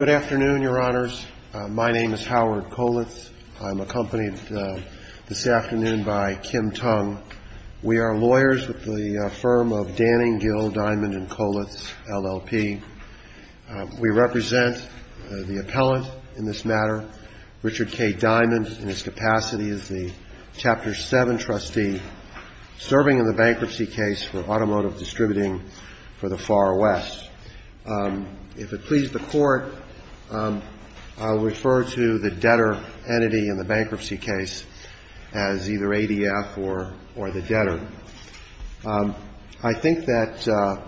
Good afternoon, Your Honors. My name is Howard Kollitz. I'm accompanied this afternoon by Kim Tung. We are lawyers with the firm of Danning, Gill, Diamond & Kollitz, LLP. We represent the appellant in this matter, Richard K. Diamond, in his capacity as the Chapter 7 trustee serving in the bankruptcy case for automotive distributing for the Far West. If it pleases the Court, I'll refer to the debtor entity in the bankruptcy case as either ADF or the debtor. I think that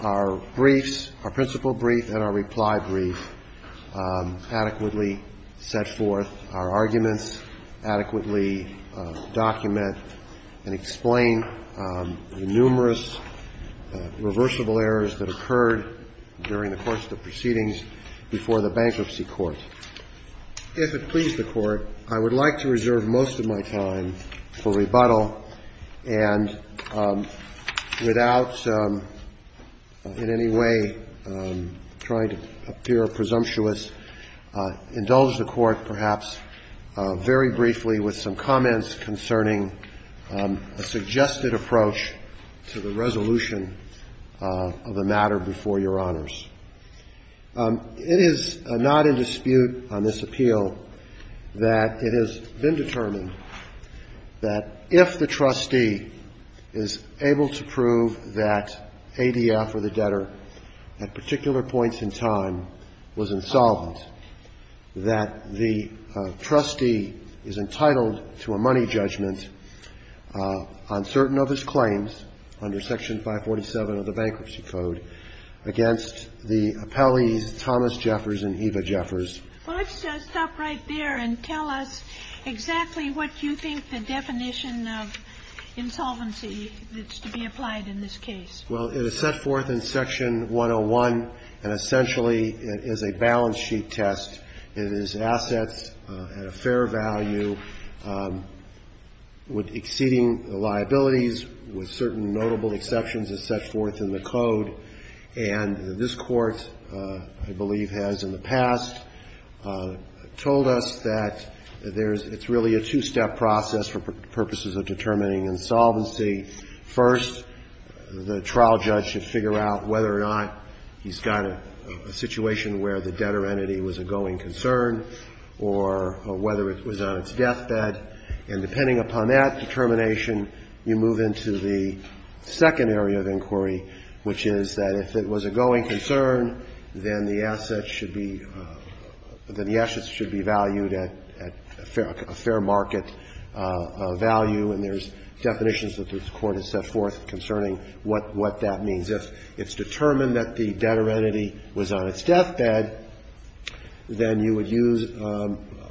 our briefs, our principal brief and our reply brief adequately set forth our arguments, adequately document and explain the numerous reversible errors that occurred during the course of the proceedings before the bankruptcy court. If it please the Court, I would like to reserve most of my time for rebuttal and without in any way trying to appear presumptuous, indulge the Court perhaps very briefly with some comments concerning a suggested approach to the resolution of the matter before Your Honors. It is not in dispute on this appeal that it has been determined that if the trustee is able to prove that ADF or the debtor at particular points in time was insolvent, that the trustee is entitled to a money judgment on certain of his claims under Section 547 of the Bankruptcy Code against the appellees Thomas Jeffers and Eva Jeffers. Well, let's stop right there and tell us exactly what you think the definition of insolvency is to be applied in this case. Well, it is set forth in Section 101, and essentially it is a balance sheet test. It is assets at a fair value with exceeding liabilities with certain notable exceptions as set forth in the Code. And this Court, I believe, has in the past told us that there's – it's really a two-step process for purposes of determining insolvency. First, the trial judge should figure out whether or not he's got a situation where the debtor entity was a going concern or whether it was on its deathbed. And depending upon that determination, you move into the second area of inquiry, which is that if it was a going concern, then the asset should be – then the assets should be valued at a fair market value, and there's definitions that this Court has set forth concerning what that means. If it's determined that the debtor entity was on its deathbed, then you would use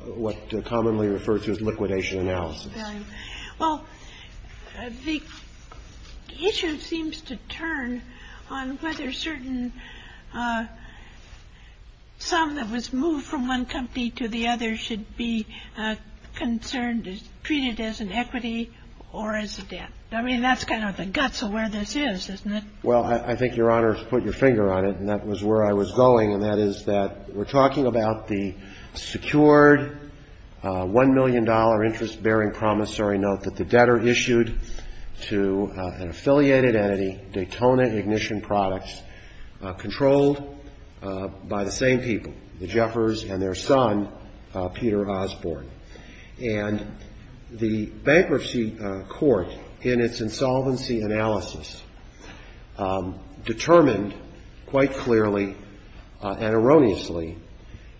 what are commonly referred to as liquidation analysis. Kagan. Well, the issue seems to turn on whether certain – some that was moved from one company to the other should be concerned, treated as an equity or as a debt. I mean, that's kind of the guts of where this is, isn't it? Well, I think Your Honor has put your finger on it, and that was where I was going, and that is that we're talking about the secured $1 million interest-bearing promissory note that the debtor issued to an affiliated entity, Daytona Ignition Products, controlled by the same people, the Jeffers and their son, Peter Osborne. And the Bankruptcy Court, in its insolvency analysis, determined quite clearly and erroneously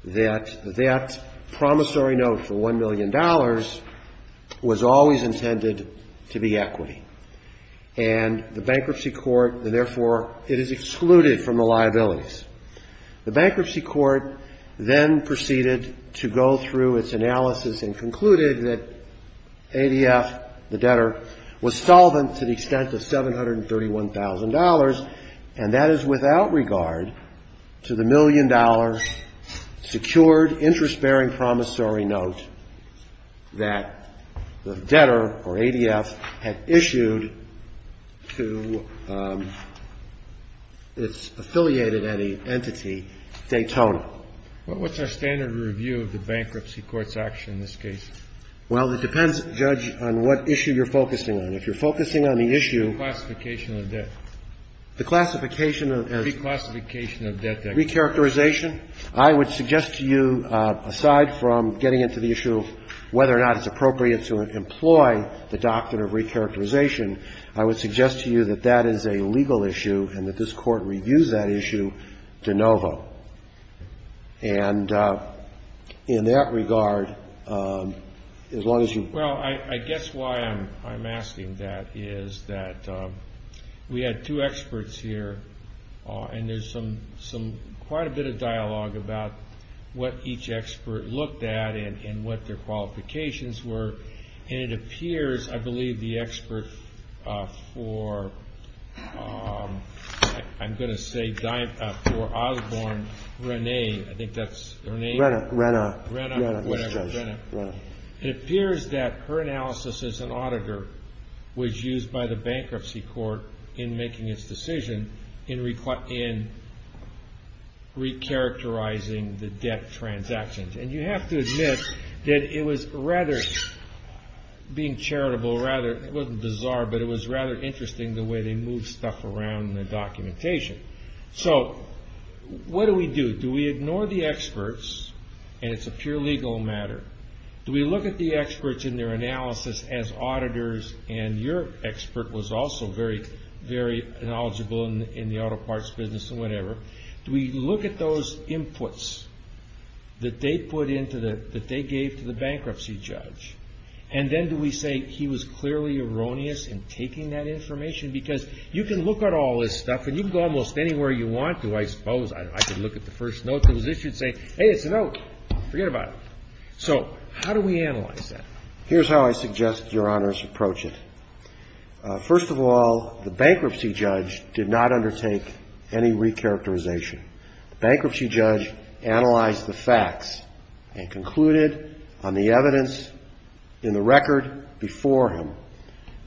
that that promissory note for $1 million was always intended to be equity. And the Bankruptcy Court – and therefore, it is excluded from the liabilities. The Bankruptcy Court then proceeded to go through its analysis and concluded that ADF, the debtor, was solvent to the extent of $731,000, and that is without regard to the $1 million secured interest-bearing promissory note that the debtor, or ADF, had issued to its affiliated entity, Daytona. Well, what's our standard review of the Bankruptcy Court's action in this case? Well, it depends, Judge, on what issue you're focusing on. If you're focusing on the issue – Reclassification of debt. The classification of – Reclassification of debt. Recharacterization. I would suggest to you, aside from getting into the issue of whether or not it's appropriate to employ the doctrine of recharacterization, I would suggest to you that that is a legal issue and that this Court reviews that issue de novo. And in that regard, as long as you – Well, I guess why I'm asking that is that we had two experts here, and there's some – quite a bit of dialogue about what each expert looked at and what their qualifications were. And it appears, I believe, the expert for – I'm going to say for Osborne, Rene – I think that's – Rene. Rene. Rene. Whatever, Rene. It appears that her analysis as an auditor was used by the Bankruptcy Court in making its decision in recharacterizing the debt transactions. And you have to admit that it was rather – being charitable, rather – it wasn't bizarre, but it was rather interesting the way they moved stuff around in the documentation. So what do we do? Do we ignore the experts? And it's a pure legal matter. Do we look at the experts in their analysis as auditors? And your expert was also very, very knowledgeable in the auto parts business and whatever. Do we look at those inputs that they put into the – that they gave to the bankruptcy judge? And then do we say he was clearly erroneous in taking that information? Because you can look at all this stuff, and you can go almost anywhere you want to, I suppose. I could look at the first note that was issued and say, hey, it's a note. Forget about it. So how do we analyze that? Here's how I suggest Your Honors approach it. First of all, the bankruptcy judge did not undertake any recharacterization. The bankruptcy judge analyzed the facts and concluded on the evidence in the record before him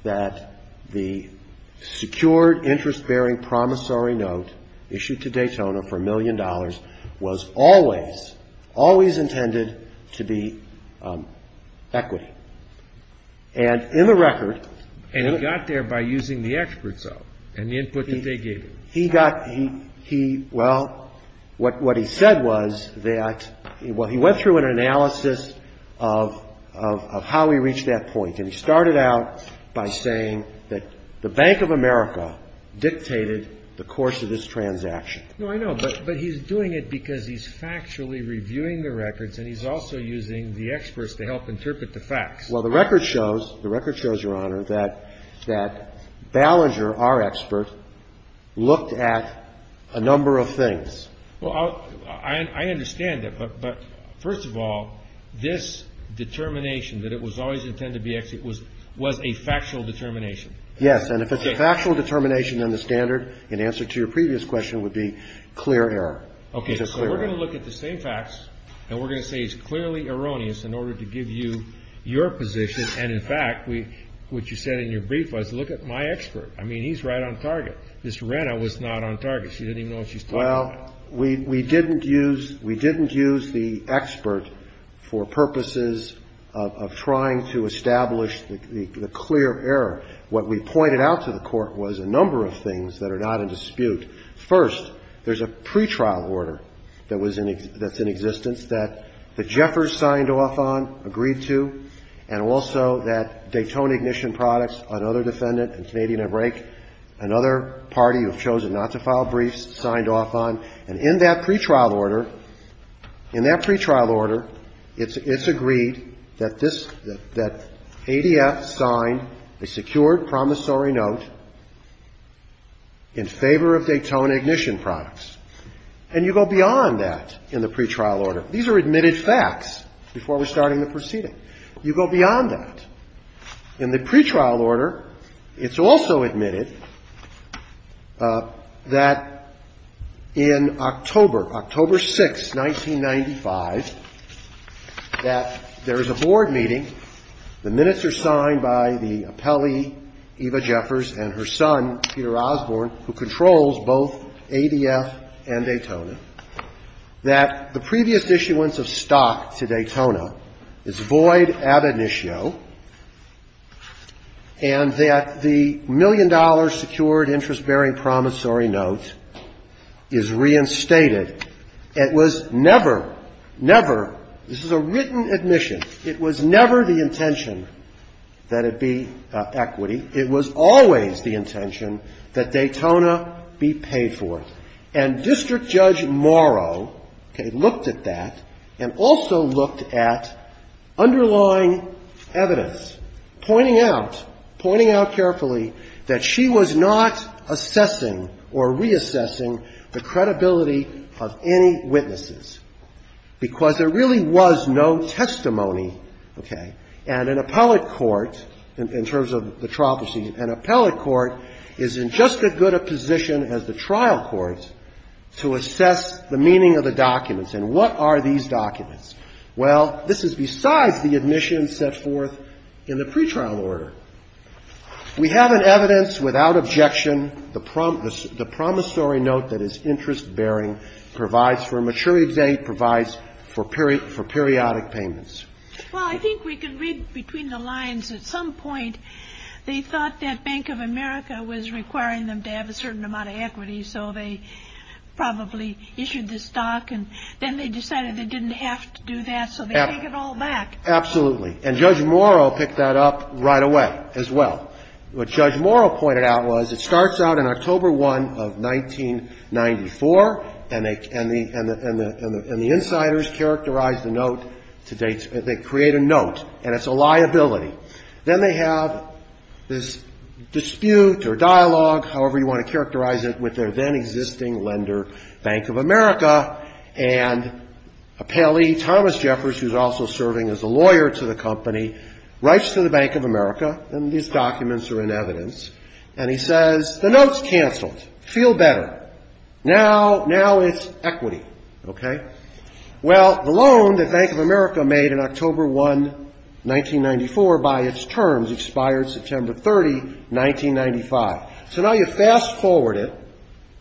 that the secured, interest-bearing, promissory note issued to Daytona for a million dollars was always, always intended to be equity. And in the record – And he got there by using the experts up and the input that they gave him. He got – he – well, what he said was that – well, he went through an analysis of how he reached that point. And he started out by saying that the Bank of America dictated the course of this transaction. No, I know. But he's doing it because he's factually reviewing the records, and he's also using the experts to help interpret the facts. Well, the record shows – the record shows, Your Honor, that Ballinger, our expert, looked at a number of things. Well, I understand that. But first of all, this determination that it was always intended to be equity was a factual determination. Yes. And if it's a factual determination on the standard, in answer to your previous question, it would be clear error. Okay. So we're going to look at the same facts, and we're going to say it's clearly erroneous in order to give you your position. And in fact, what you said in your brief was, look at my expert. I mean, he's right on target. Mr. Renna was not on target. She didn't even know what she was talking about. Well, we didn't use – we didn't use the expert for purposes of trying to establish the clear error. What we pointed out to the Court was a number of things that are not in dispute. First, there's a pretrial order that was in – that's in existence that the Jeffers signed off on, agreed to, and also that Daytona Ignition Products, another defendant in Canadian Abrake, another party who have chosen not to file briefs, signed off on. And in that pretrial order, in that pretrial order, it's agreed that this – that ADF signed a secured promissory note in favor of Daytona Ignition Products. And you go beyond that in the pretrial order. These are admitted facts before we're starting the proceeding. You go beyond that. In the pretrial order, it's also admitted that in October, October 6, 1995, that there is a board meeting. The minutes are signed by the appellee, Eva Jeffers, and her son, Peter Osborne, who controls both ADF and Daytona, that the previous issuance of stock to Daytona is void ad initio, and that the million-dollar secured interest-bearing promissory note is reinstated. It was never, never – this is a written admission. It was never the intention that it be equity. It was always the intention that Daytona be paid for. And District Judge Morrow, okay, looked at that and also looked at underlying evidence, pointing out, pointing out carefully that she was not assessing or reassessing the credibility of any witnesses, because there really was no testimony, okay, and an appellate court is in just as good a position as the trial court to assess the meaning of the documents. And what are these documents? Well, this is besides the admission set forth in the pretrial order. We have an evidence without objection, the promissory note that is interest-bearing, provides for a maturity date, provides for periodic payments. Well, I think we can read between the lines. At some point, they thought that Bank of America was requiring them to have a certain amount of equity, so they probably issued the stock, and then they decided they didn't have to do that, so they take it all back. Absolutely. And Judge Morrow picked that up right away as well. What Judge Morrow pointed out was it starts out in October 1 of 1994, and the insiders characterize the note to date. They create a note, and it's a liability. Then they have this dispute or dialogue, however you want to characterize it, with their then-existing lender, Bank of America, and appellee Thomas Jeffers, who's also serving as a lawyer to the company, writes to the Bank of America, and these documents are in evidence, and he says, the note's canceled. Feel better. Now it's equity, okay? Well, the loan that Bank of America made in October 1, 1994, by its terms, expired September 30, 1995. So now you fast-forward it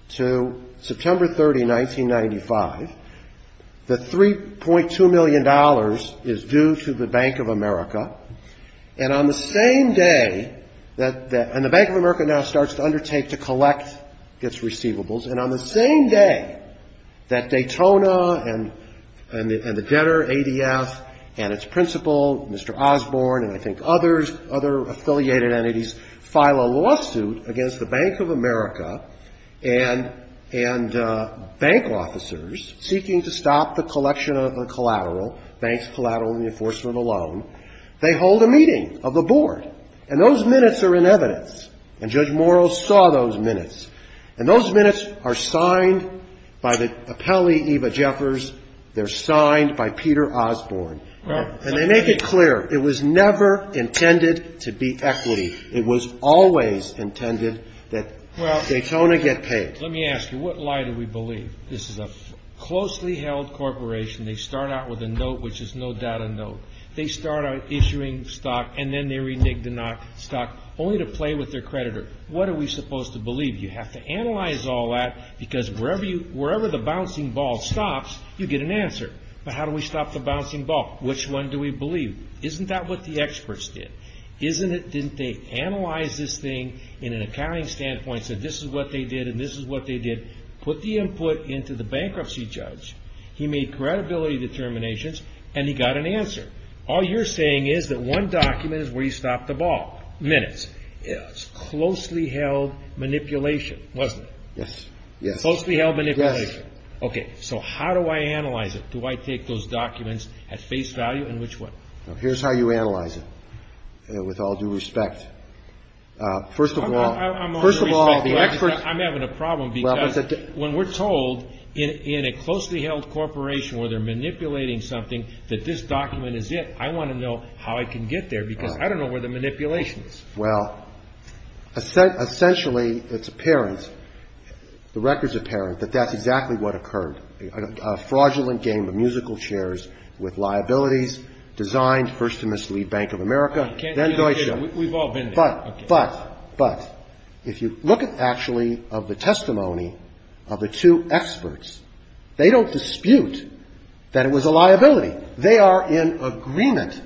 to September 30, 1995. The $3.2 million is due to the Bank of America, and on the same day, and the Bank of America now starts to undertake to collect its receivables, and on the same day that Daytona and the debtor, ADF, and its principal, Mr. Osborne, and I think others, other affiliated entities, file a lawsuit against the Bank of America and bank officers seeking to stop the collection of a collateral, banks, collateral, and the enforcement of a loan, they hold a meeting of the board, and those minutes are in evidence, and Judge Morrill saw those minutes, and those minutes are signed by the appellee, Eva Jeffers. They're signed by Peter Osborne, and they make it clear it was never intended to be equity. It was always intended that Daytona get paid. Let me ask you, what lie do we believe? This is a closely held corporation. They start out issuing stock, and then they renege to not stock, only to play with their creditor. What are we supposed to believe? You have to analyze all that, because wherever the bouncing ball stops, you get an answer. But how do we stop the bouncing ball? Which one do we believe? Isn't that what the experts did? Didn't they analyze this thing in an accounting standpoint, said this is what they did, and this is what they did? Put the input into the bankruptcy judge. He made credibility determinations, and he got an answer. All you're saying is that one document is where he stopped the ball. Minutes. It's closely held manipulation, wasn't it? Yes. Yes. Closely held manipulation. Yes. Okay. So how do I analyze it? Do I take those documents at face value, and which one? Here's how you analyze it, with all due respect. First of all, the experts. I'm having a problem, because when we're told in a closely held corporation where they're manipulating something, that this document is it, I want to know how I can get there, because I don't know where the manipulation is. Well, essentially it's apparent, the record's apparent, that that's exactly what occurred. A fraudulent game of musical chairs with liabilities, designed first to mislead Bank of America, then Deutsche. We've all been there. But, but, but, if you look at actually of the testimony of the two experts, they don't dispute that it was a liability. They are in agreement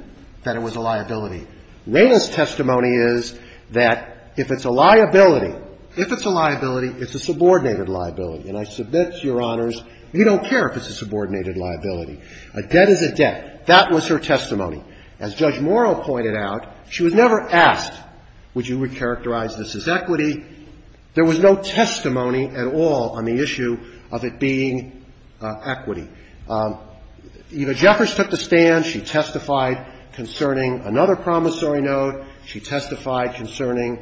that it was a liability. Rayner's testimony is that if it's a liability, if it's a liability, it's a subordinated liability. And I submit to Your Honors, we don't care if it's a subordinated liability. A debt is a debt. That was her testimony. As Judge Morrow pointed out, she was never asked, would you recharacterize this as equity. There was no testimony at all on the issue of it being equity. Eva Jeffers took the stand. She testified concerning another promissory note. She testified concerning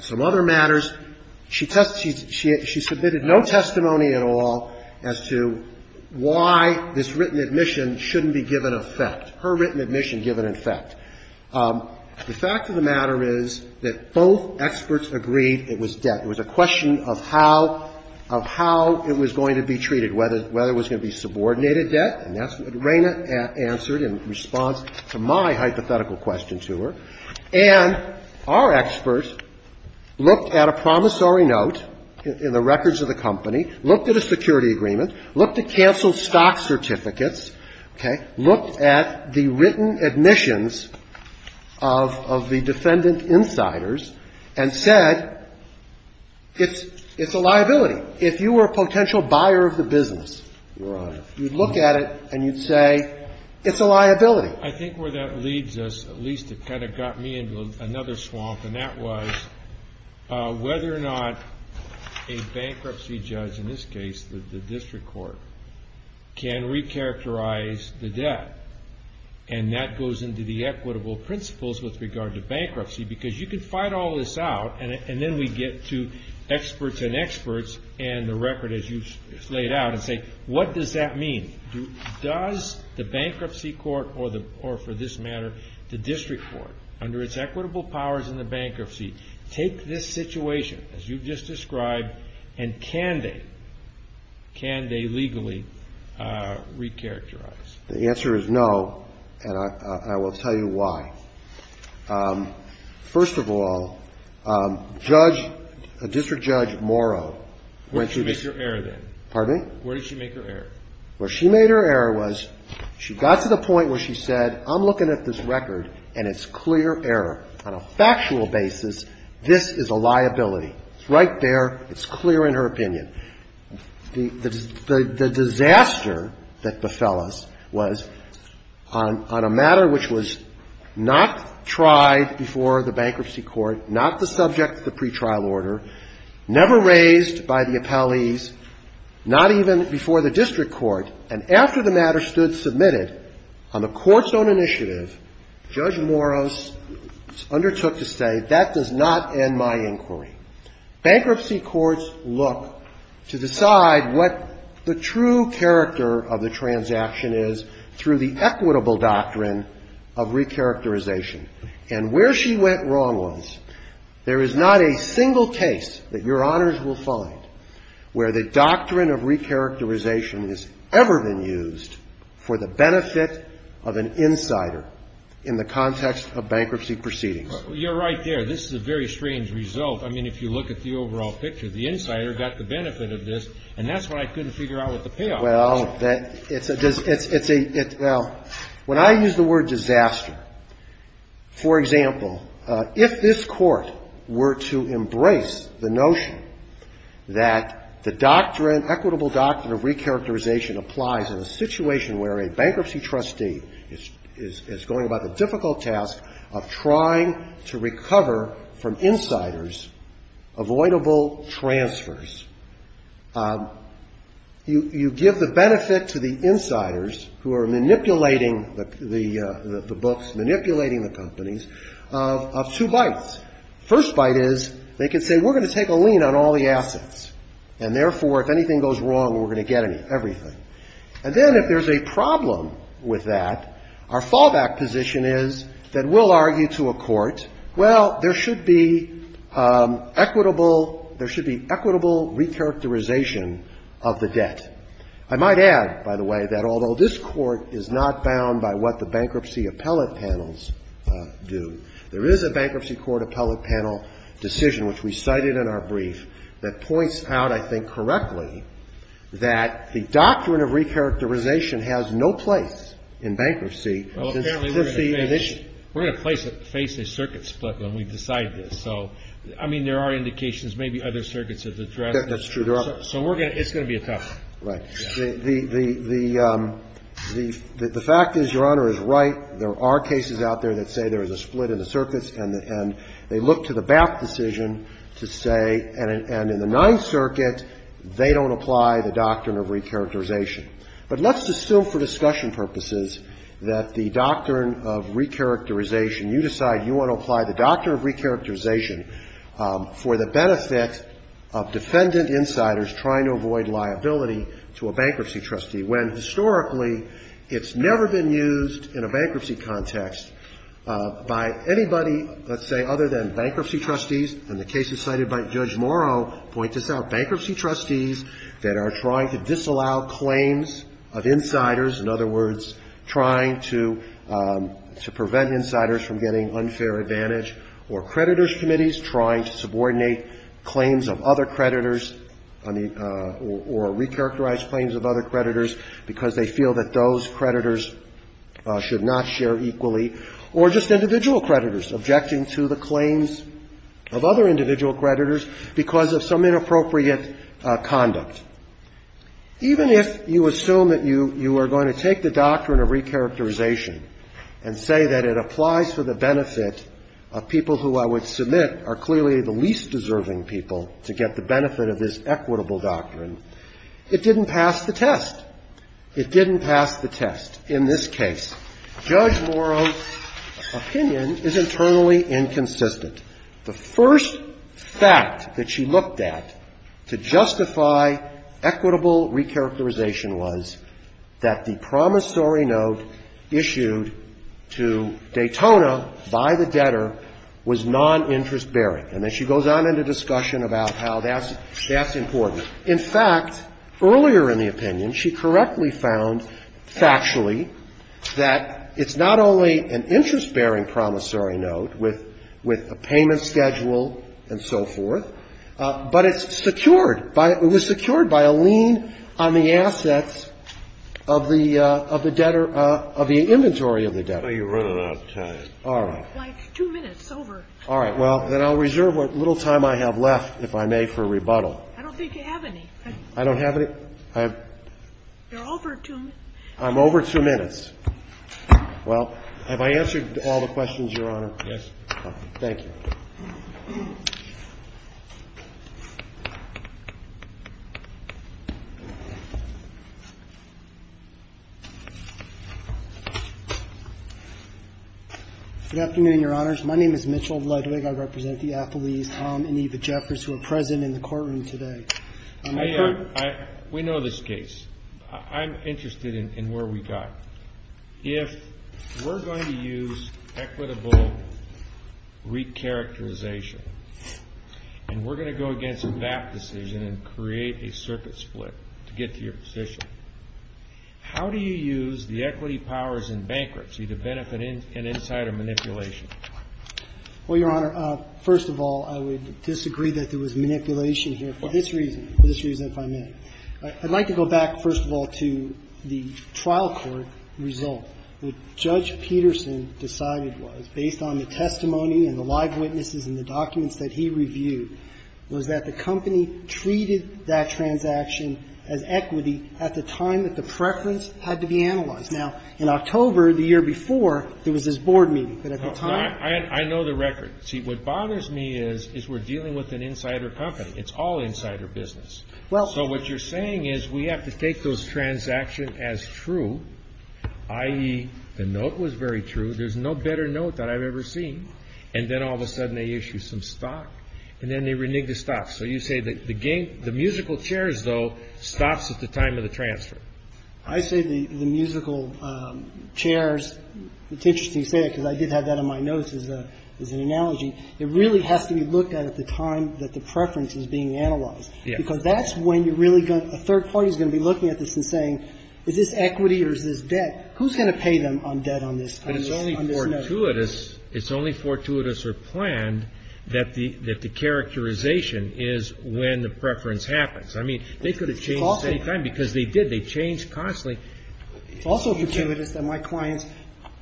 some other matters. She tested, she submitted no testimony at all as to why this written admission shouldn't be given effect. Her written admission given effect. The fact of the matter is that both experts agreed it was debt. It was a question of how, of how it was going to be treated, whether it was going to be subordinated debt. And that's what Rayner answered in response to my hypothetical question to her. And our experts looked at a promissory note in the records of the company, looked at a security agreement, looked at canceled stock certificates, okay, looked at the written admissions of the defendant insiders and said it's a liability. If you were a potential buyer of the business, you'd look at it and you'd say it's a liability. I think where that leads us, at least it kind of got me into another swamp, and that was whether or not a bankruptcy judge, in this case the district court, can re-characterize the debt. And that goes into the equitable principles with regard to bankruptcy because you can fight all this out and then we get to experts and experts and the record as you've laid out and say what does that mean? Does the bankruptcy court or the, or for this matter, the district court, under its equitable powers in the bankruptcy, take this situation as you've just described and can they, can they legally re-characterize? The answer is no, and I will tell you why. First of all, Judge, District Judge Morrow. Where did she make her error then? Pardon me? Where did she make her error? Where she made her error was she got to the point where she said I'm looking at this record and it's clear error. On a factual basis, this is a liability. It's right there. It's clear in her opinion. The disaster that befell us was on a matter which was not tried before the bankruptcy court, not the subject of the pretrial order, never raised by the appellees, not even before the district court. And after the matter stood submitted on the court's own initiative, Judge Morrow undertook to say that does not end my inquiry. Bankruptcy courts look to decide what the true character of the transaction is through the equitable doctrine of re-characterization. And where she went wrong was there is not a single case that Your Honors will find where the doctrine of re-characterization has ever been used for the benefit of an insider in the context of bankruptcy proceedings. Well, you're right there. This is a very strange result. I mean, if you look at the overall picture, the insider got the benefit of this, and that's why I couldn't figure out what the payoff was. Well, it's a, it's a, well, when I use the word disaster, for example, if this court were to embrace the notion that the doctrine, equitable doctrine of re-characterization applies in a situation where a bankruptcy trustee is going about the difficult task of trying to recover from insiders avoidable transfers, you give the benefit to the insiders who are manipulating the books, manipulating the companies, of two bites. First bite is they can say we're going to take a lien on all the assets, and therefore, if anything goes wrong, we're going to get everything. And then if there's a problem with that, our fallback position is that we'll argue to a court, well, there should be equitable, there should be equitable re-characterization of the debt. I might add, by the way, that although this Court is not bound by what the bankruptcy appellate panels do, there is a bankruptcy court appellate panel decision, which we cited in our brief, that points out, I think, correctly, that the doctrine of re-characterization has no place in bankruptcy. Well, apparently, we're going to face a circuit split when we decide this. So, I mean, there are indications maybe other circuits have addressed this. That's true. So it's going to be a tough one. Right. The fact is, Your Honor, is right. There are cases out there that say there is a split in the circuits, and they look to the BAPT decision to say, and in the Ninth Circuit, they don't apply the doctrine of re-characterization. But let's assume for discussion purposes that the doctrine of re-characterization you decide you want to apply the doctrine of re-characterization for the benefit of defendant insiders trying to avoid liability to a bankruptcy trustee, when, historically, it's never been used in a bankruptcy context by anybody, let's say, other than bankruptcy trustees, and the cases cited by Judge Morrow point this out, bankruptcy trustees that are trying to disallow claims of insiders, in other words, trying to prevent insiders from getting unfair advantage, or creditors committees trying to subordinate claims of other creditors or re-characterize claims of other creditors because they feel that those creditors should not share equally, or just individual conduct. Even if you assume that you are going to take the doctrine of re-characterization and say that it applies for the benefit of people who I would submit are clearly the least deserving people to get the benefit of this equitable doctrine, it didn't pass the test. It didn't pass the test. In this case, Judge Morrow's opinion is internally inconsistent. The first fact that she looked at to justify equitable re-characterization was that the promissory note issued to Daytona by the debtor was non-interest bearing. And then she goes on into discussion about how that's important. In fact, earlier in the opinion, she correctly found factually that it's not only an interest-bearing promissory note with a payment schedule and so forth, but it's secured by – it was secured by a lien on the assets of the debtor – of the inventory of the debtor. Scalia. So you're running out of time. Carvin. All right. Sotomayor. Why, it's two minutes over. Carvin. All right. Well, then I'll reserve what little time I have left, if I may, for rebuttal. Sotomayor. I don't think you have any. Carvin. I don't have any. Sotomayor. You're over two minutes. Well, have I answered all the questions, Your Honor? Yes. Thank you. Good afternoon, Your Honors. My name is Mitchell Ludwig. I represent the athletes, Tom and Eva Jeffers, who are present in the courtroom today. I heard – We know this case. I'm interested in where we got. If we're going to use equitable recharacterization and we're going to go against a VAP decision and create a circuit split to get to your position, how do you use the equity powers in bankruptcy to benefit an insider manipulation? Well, Your Honor, first of all, I would disagree that there was manipulation here for this reason – for this reason, if I may. I'd like to go back, first of all, to the trial court result. What Judge Peterson decided was, based on the testimony and the live witnesses and the documents that he reviewed, was that the company treated that transaction as equity at the time that the preference had to be analyzed. Now, in October, the year before, there was this board meeting. But at the time – I know the record. See, what bothers me is we're dealing with an insider company. It's all insider business. So what you're saying is we have to take those transactions as true, i.e., the note was very true. There's no better note that I've ever seen. And then all of a sudden they issue some stock. And then they renege the stock. So you say the musical chairs, though, stops at the time of the transfer. I say the musical chairs. It's interesting you say that because I did have that on my notes as an analogy. It really has to be looked at at the time that the preference is being analyzed. Because that's when you're really going to – a third party is going to be looking at this and saying, is this equity or is this debt? Who's going to pay them on debt on this note? But it's only fortuitous or planned that the characterization is when the preference happens. I mean, they could have changed at any time because they did. They changed constantly. It's also fortuitous that my clients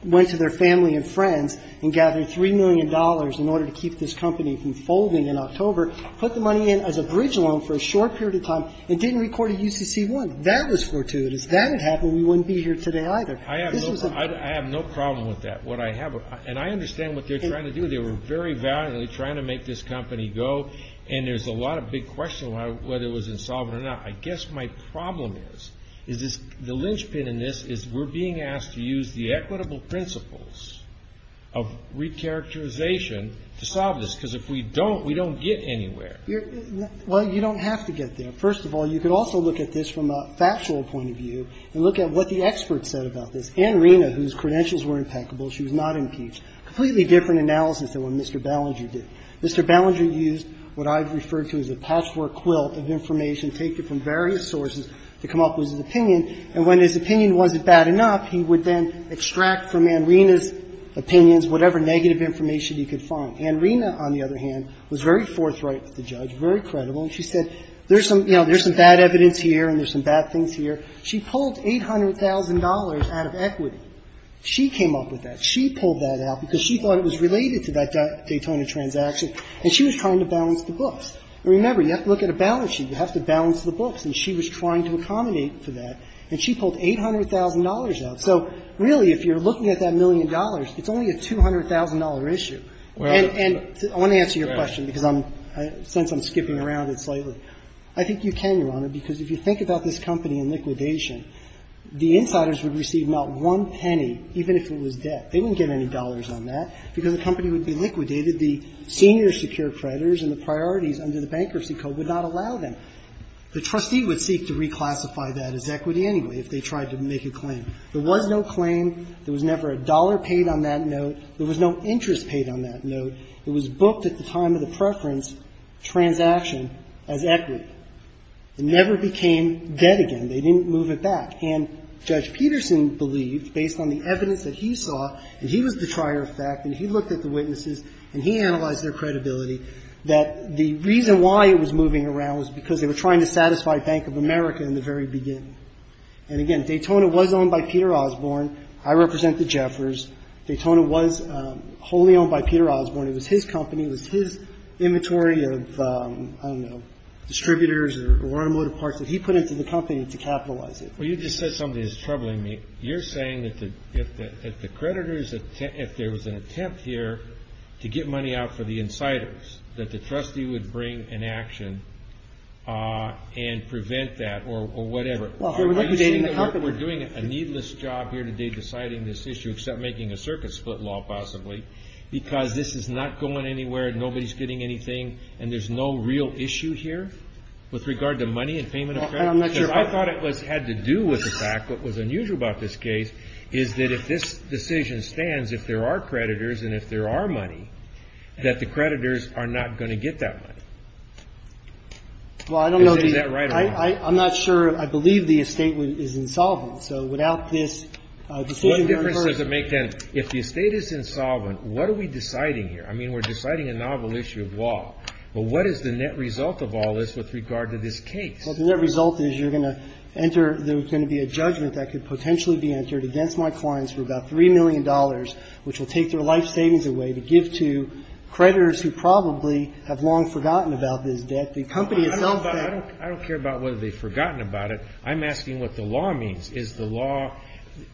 went to their family and friends and gathered $3 million in order to keep this company from folding in October, put the money in as a bridge loan for a short period of time, and didn't record a UCC1. That was fortuitous. If that had happened, we wouldn't be here today either. I have no problem with that. And I understand what they're trying to do. They were very valiantly trying to make this company go. And there's a lot of big questions whether it was insolvent or not. I guess my problem is the linchpin in this is we're being asked to use the equitable principles of recharacterization to solve this. And we're being asked to use the equitable principles of recharacterization And we're being asked to use the equitable principles of recharacterization to solve this, because if we don't, we don't get anywhere. Well, you don't have to get there. First of all, you could also look at this from a factual point of view and look at what the experts said about this. Ann Rina, whose credentials were impeccable, she was not impeached. Completely different analysis than what Mr. Ballinger did. Mr. Ballinger used what I've referred to as a patchwork quilt of information taken from various sources to come up with his opinion. And when his opinion wasn't bad enough, he would then extract from Ann Rina's opinions whatever negative information he could find. Ann Rina, on the other hand, was very forthright with the judge, very credible. And she said there's some bad evidence here and there's some bad things here. She pulled $800,000 out of equity. She came up with that. She pulled that out because she thought it was related to that Daytona transaction. And she was trying to balance the books. Remember, you have to look at a balance sheet. You have to balance the books. And she was trying to accommodate for that. And she pulled $800,000 out. So really, if you're looking at that million dollars, it's only a $200,000 issue. And I want to answer your question, because I'm – since I'm skipping around it slightly. I think you can, Your Honor, because if you think about this company in liquidation, the insiders would receive not one penny, even if it was debt. They wouldn't get any dollars on that, because the company would be liquidated. The senior secure creditors and the priorities under the Bankruptcy Code would not allow them. The trustee would seek to reclassify that as equity anyway if they tried to make a claim. There was no claim. There was never a dollar paid on that note. There was no interest paid on that note. It was booked at the time of the preference transaction as equity. It never became debt again. They didn't move it back. And Judge Peterson believed, based on the evidence that he saw, and he was the trier of fact and he looked at the witnesses and he analyzed their credibility, that the reason why it was moving around was because they were trying to satisfy Bank of America in the very beginning. And, again, Daytona was owned by Peter Osborne. I represent the Jeffers. Daytona was wholly owned by Peter Osborne. It was his company. It was his inventory of, I don't know, distributors or automotive parts that he put into the You've just said something that's troubling me. You're saying that if there was an attempt here to get money out for the insiders, that the trustee would bring inaction and prevent that or whatever. Well, if they were liquidating the company. Are you saying that we are doing a needless job here today deciding this issue except making a circuit-split law, possibly, because this is not going anywhere, nobody is getting anything, and there is no real issue here with regard to money and payment of credit? I'm not sure. Because I thought it had to do with the fact, what was unusual about this case, is that if this decision stands, if there are creditors and if there are money, that the creditors are not going to get that money. Is that right or wrong? I'm not sure. I believe the estate is insolvent. So without this decision from a person. What difference does it make, then, if the estate is insolvent, what are we deciding here? I mean, we're deciding a novel issue of law. But what is the net result of all this with regard to this case? Well, the net result is you're going to enter, there's going to be a judgment that could potentially be entered against my clients for about $3 million, which will take their life savings away to give to creditors who probably have long forgotten about this debt. The company itself. I don't care about whether they've forgotten about it. I'm asking what the law means. Is the law,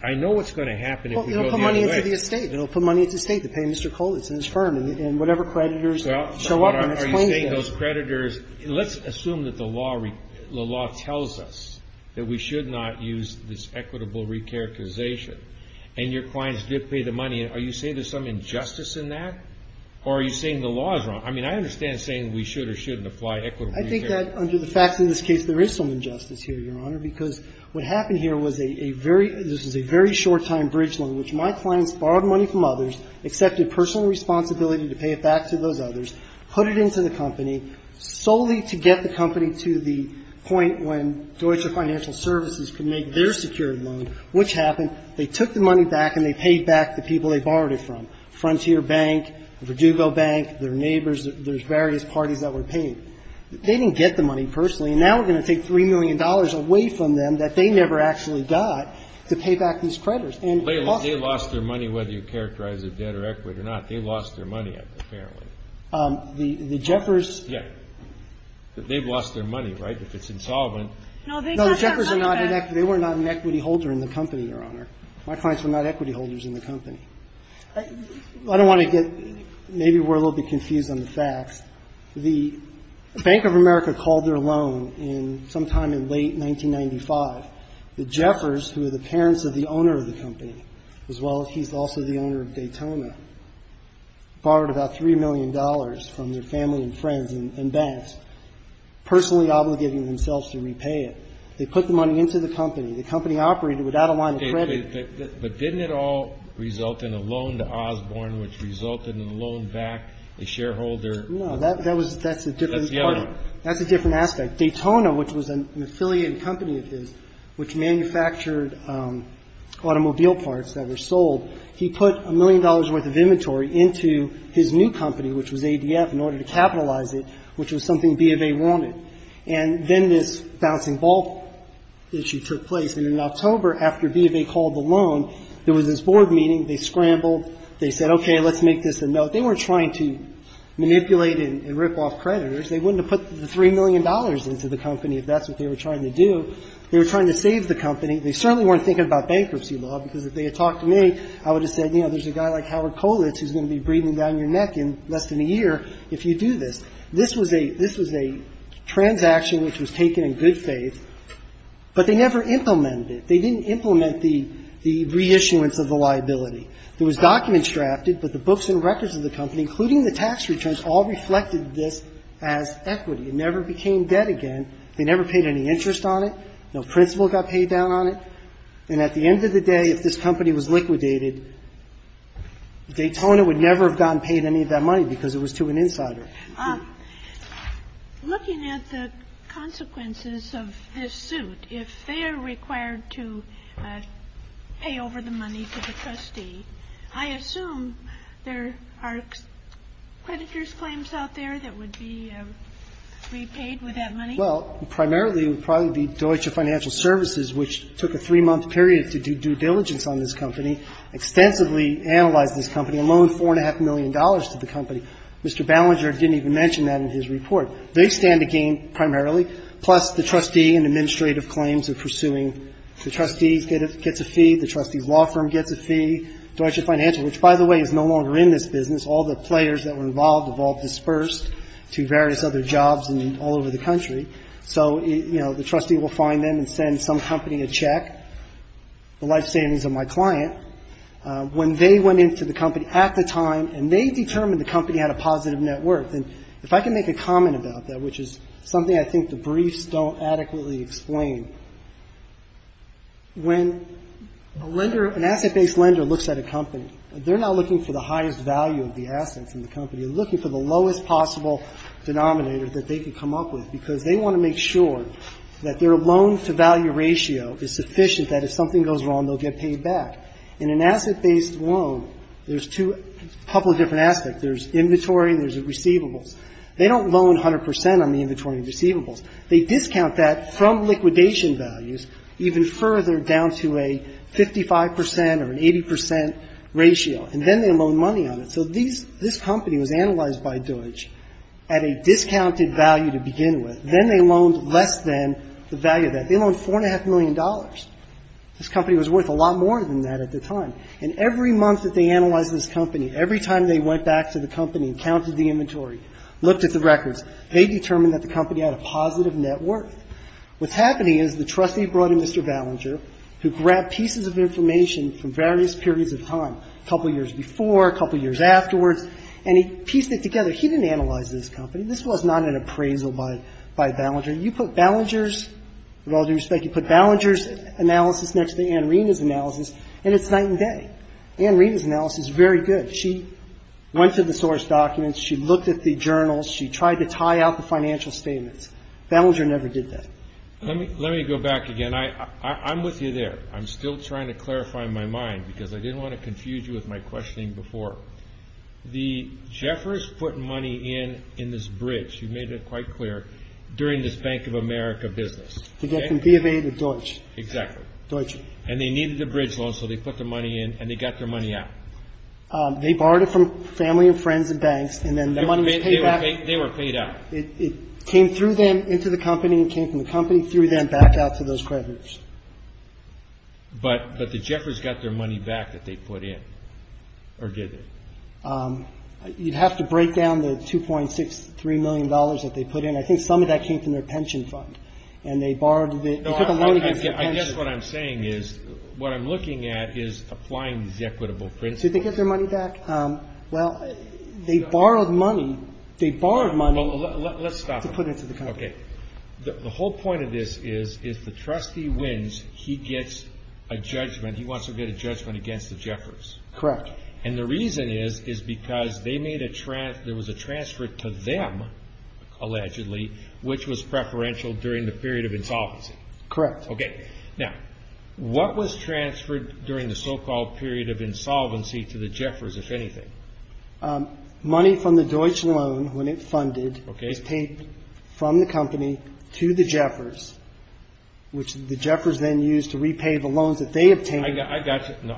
I know what's going to happen if we go the other way. Well, it will put money into the estate. It will put money into the estate to pay Mr. Colitz and his firm and whatever creditors show up and explain this. You're saying those creditors, let's assume that the law tells us that we should not use this equitable recharacterization and your clients did pay the money. Are you saying there's some injustice in that? Or are you saying the law is wrong? I mean, I understand saying we should or shouldn't apply equitable recharacterization. I think that under the facts in this case, there is some injustice here, Your Honor, because what happened here was a very this was a very short-time bridge loan, which my clients borrowed money from others, accepted personal responsibility to pay it back to those others, put it into the company solely to get the company to the point when Deutsche Financial Services could make their security loan, which happened. They took the money back and they paid back the people they borrowed it from, Frontier Bank, Verdugo Bank, their neighbors. There's various parties that were paying. They didn't get the money personally. And now we're going to take $3 million away from them that they never actually got to pay back these creditors. They lost their money, whether you characterize it debt or equity or not. They lost their money, apparently. The Jeffers. Yeah. They've lost their money, right, if it's insolvent. No, the Jeffers are not an equity. They were not an equity holder in the company, Your Honor. My clients were not equity holders in the company. I don't want to get maybe we're a little bit confused on the facts. The Bank of America called their loan sometime in late 1995. The Jeffers, who are the parents of the owner of the company, as well as he's also the owner of Daytona, borrowed about $3 million from their family and friends and banks, personally obligating themselves to repay it. They put the money into the company. The company operated without a line of credit. But didn't it all result in a loan to Osborne, which resulted in a loan back, a shareholder? No, that's a different part. That's the other one. That's a different aspect. Daytona, which was an affiliate company of his, which manufactured automobile parts that were sold, he put a million dollars' worth of inventory into his new company, which was ADF, in order to capitalize it, which was something B of A wanted. And then this bouncing ball issue took place. And in October, after B of A called the loan, there was this board meeting. They scrambled. They said, okay, let's make this a note. They weren't trying to manipulate and rip off creditors. They wouldn't have put the $3 million into the company if that's what they were trying to do. They were trying to save the company. They certainly weren't thinking about bankruptcy law, because if they had talked to me, I would have said, you know, there's a guy like Howard Kolitz who's going to be breathing down your neck in less than a year if you do this. This was a transaction which was taken in good faith, but they never implemented it. They didn't implement the reissuance of the liability. There was documents drafted, but the books and records of the company, including the tax returns, all reflected this as equity. It never became debt again. They never paid any interest on it. No principal got paid down on it. And at the end of the day, if this company was liquidated, Daytona would never have gotten paid any of that money because it was to an insider. Sotomayor, looking at the consequences of this suit, if they are required to pay over the money to the trustee, I assume there are creditor's claims out there that would be repaid with that money? Well, primarily it would probably be Deutsche Financial Services, which took a three-month period to do due diligence on this company, extensively analyze this company, loan $4.5 million to the company. Mr. Ballinger didn't even mention that in his report. They stand to gain primarily, plus the trustee and administrative claims of pursuing the trustee gets a fee, the trustee's law firm gets a fee, Deutsche Financial, which, by the way, is no longer in this business. All the players that were involved have all dispersed to various other jobs all over the country. So, you know, the trustee will find them and send some company a check, the life savings of my client. When they went into the company at the time and they determined the company had a positive net worth, and if I can make a comment about that, which is something I think the briefs don't adequately explain, when a lender, an asset-based lender looks at a company, they're not looking for the highest value of the assets in the company. They're looking for the lowest possible denominator that they can come up with because they want to make sure that their loan-to-value ratio is sufficient that if something goes wrong, they'll get paid back. In an asset-based loan, there's two, a couple of different assets. There's inventory and there's receivables. They don't loan 100% on the inventory and receivables. They discount that from liquidation values even further down to a 55% or an 80% ratio, and then they loan money on it. So this company was analyzed by Deutsche at a discounted value to begin with. Then they loaned less than the value of that. They loaned $4.5 million. This company was worth a lot more than that at the time. And every month that they analyzed this company, every time they went back to the company and counted the inventory, looked at the records, they determined that the company had a positive net worth. What's happening is the trustee brought in Mr. Ballinger, who grabbed pieces of information from various periods of time, a couple years before, a couple years afterwards, and he pieced it together. He didn't analyze this company. This was not an appraisal by Ballinger. You put Ballinger's analysis next to Ann Reena's analysis, and it's night and day. Ann Reena's analysis is very good. She went to the source documents. She looked at the journals. She tried to tie out the financial statements. Ballinger never did that. Let me go back again. I'm with you there. I'm still trying to clarify my mind because I didn't want to confuse you with my questioning before. The Jeffers put money in in this bridge. You made it quite clear, during this Bank of America business. They got from B of A to Deutsche. Exactly. Deutsche. And they needed the bridge loan, so they put their money in, and they got their money out. They borrowed it from family and friends and banks, and then the money was paid back. They were paid out. It came through them into the company, came from the company, threw them back out to those creditors. But the Jeffers got their money back that they put in, or did they? You'd have to break down the $2.63 million that they put in. I think some of that came from their pension fund, and they borrowed it. I guess what I'm saying is what I'm looking at is applying these equitable principles. Did they get their money back? Well, they borrowed money. Let's stop there. The whole point of this is if the trustee wins, he gets a judgment. He wants to get a judgment against the Jeffers. Correct. And the reason is because there was a transfer to them, allegedly, which was preferential during the period of insolvency. Correct. Now, what was transferred during the so-called period of insolvency to the Jeffers, if anything? Money from the Deutsche Loan, when it funded, was paid from the company to the Jeffers, which the Jeffers then used to repay the loans that they obtained. I got you.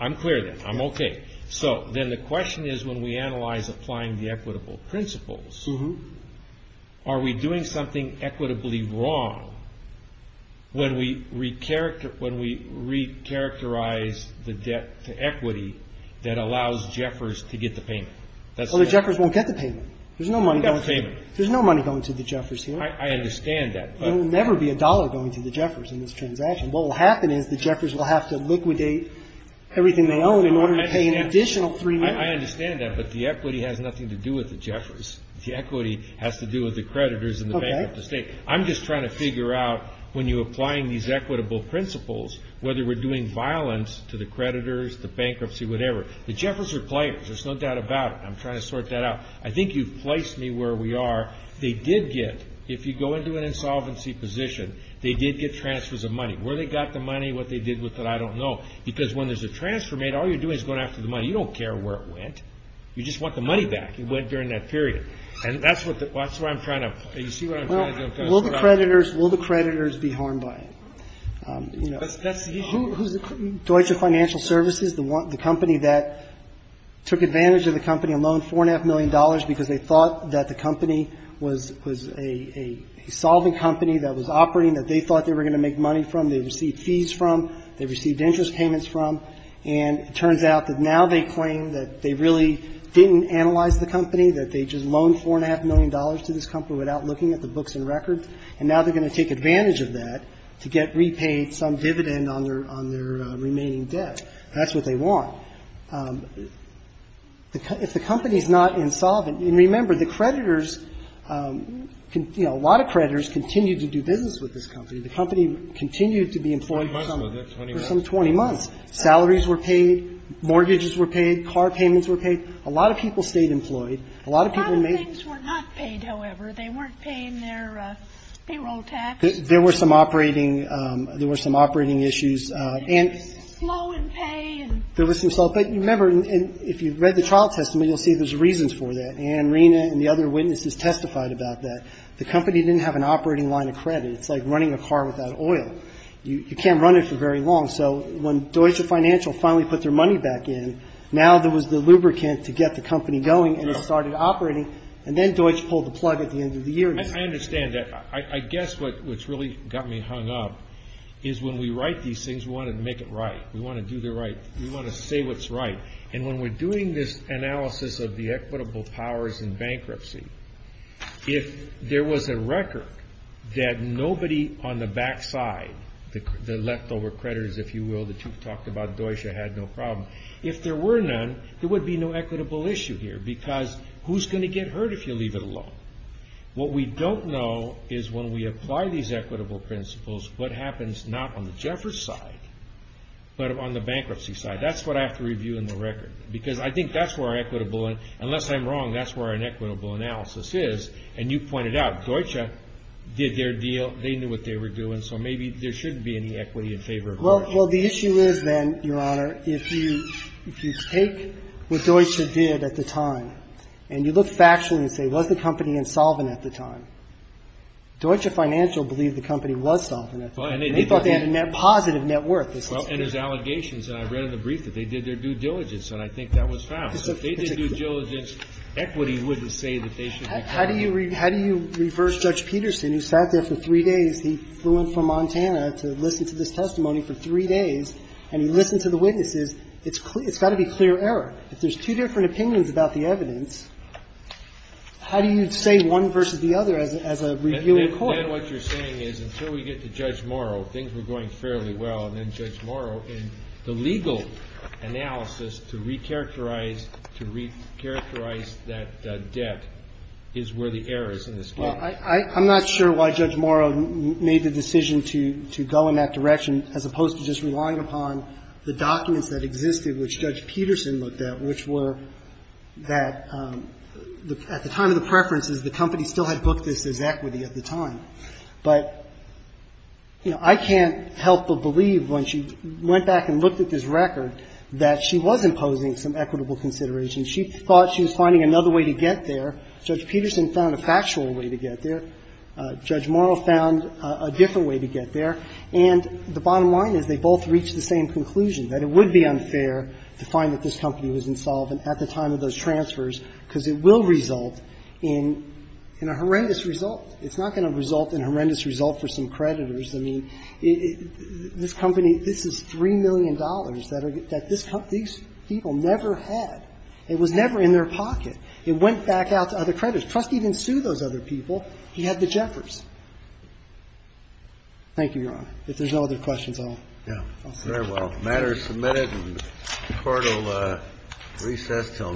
I'm clear then. I'm okay. So then the question is, when we analyze applying the equitable principles, are we doing something equitably wrong when we recharacterize the debt to equity that allows Jeffers to get the payment? Well, the Jeffers won't get the payment. There's no money going to the Jeffers here. I understand that. There will never be a dollar going to the Jeffers in this transaction. What will happen is the Jeffers will have to liquidate everything they own in order to pay an additional three million. I understand that, but the equity has nothing to do with the Jeffers. The equity has to do with the creditors and the bank of the state. Okay. I'm just trying to figure out, when you're applying these equitable principles, whether we're doing violence to the creditors, the bankruptcy, whatever. The Jeffers are players. There's no doubt about it. I'm trying to sort that out. I think you've placed me where we are. They did get, if you go into an insolvency position, they did get transfers of money. Where they got the money, what they did with it, I don't know. Because when there's a transfer made, all you're doing is going after the money. You don't care where it went. You just want the money back. It went during that period. And that's what I'm trying to, you see what I'm trying to figure out. Well, will the creditors be harmed by it? That's the issue. Deutsche Financial Services, the company that took advantage of the company and loaned $4.5 million because they thought that the company was a solving company that was operating, that they thought they were going to make money from. They received fees from. They received interest payments from. And it turns out that now they claim that they really didn't analyze the company, that they just loaned $4.5 million to this company without looking at the books and records. And now they're going to take advantage of that to get repaid some dividend on their remaining debt. That's what they want. If the company's not insolvent, and remember, the creditors, you know, a lot of creditors continue to do business with this company. The company continued to be employed for some 20 months. Salaries were paid. Mortgages were paid. Car payments were paid. A lot of people stayed employed. A lot of people made. A lot of things were not paid, however. They weren't paying their payroll tax. There were some operating issues. And there was some slow in pay. There was some slow. But remember, if you read the trial testimony, you'll see there's reasons for that. And Rena and the other witnesses testified about that. The company didn't have an operating line of credit. It's like running a car without oil. You can't run it for very long. So when Deutsche Financial finally put their money back in, now there was the lubricant to get the company going and it started operating. And then Deutsche pulled the plug at the end of the year. I understand that. I guess what's really got me hung up is when we write these things, we want to make it right. We want to do the right. We want to say what's right. And when we're doing this analysis of the equitable powers in bankruptcy, if there was a record that nobody on the back side, the leftover creditors, if you will, that you've talked about, Deutsche, had no problem. If there were none, there would be no equitable issue here because who's going to get hurt if you leave it alone? What we don't know is when we apply these equitable principles, what happens not on the Jeffers side, but on the bankruptcy side. That's what I have to review in the record because I think that's where our equitable, unless I'm wrong, that's where our inequitable analysis is. And you pointed out, Deutsche did their deal. They knew what they were doing, so maybe there shouldn't be any equity in favor of Deutsche. Well, the issue is then, Your Honor, if you take what Deutsche did at the time and you look factually and say, was the company insolvent at the time? Deutsche Financial believed the company was solvent at the time. They thought they had a positive net worth. Well, and there's allegations, and I read in the brief that they did their due diligence, and I think that was found. If they did their due diligence, equity wouldn't say that they should be caught. How do you reverse Judge Peterson, who sat there for three days? He flew in from Montana to listen to this testimony for three days, and he listened to the witnesses. It's got to be clear error. If there's two different opinions about the evidence, how do you say one versus the other as a review in court? Again, what you're saying is until we get to Judge Morrow, things were going fairly well, and then Judge Morrow, and the legal analysis to recharacterize that debt is where the error is in this case. Well, I'm not sure why Judge Morrow made the decision to go in that direction as opposed to just relying upon the documents that existed, which Judge Peterson looked at, which were that at the time of the preferences, the company still had booked this as equity at the time. But, you know, I can't help but believe when she went back and looked at this record that she was imposing some equitable consideration. She thought she was finding another way to get there. Judge Peterson found a factual way to get there. Judge Morrow found a different way to get there. And the bottom line is they both reached the same conclusion, that it would be unfair to find that this company was insolvent at the time of those transfers because it will result in a horrendous result. It's not going to result in a horrendous result for some creditors. I mean, this company, this is $3 million that these people never had. It was never in their pocket. It went back out to other creditors. Trustee didn't sue those other people. He had the Jeffers. Thank you, Your Honor. If there's no other questions, I'll stop. Very well. The matter is submitted and the Court will recess until now.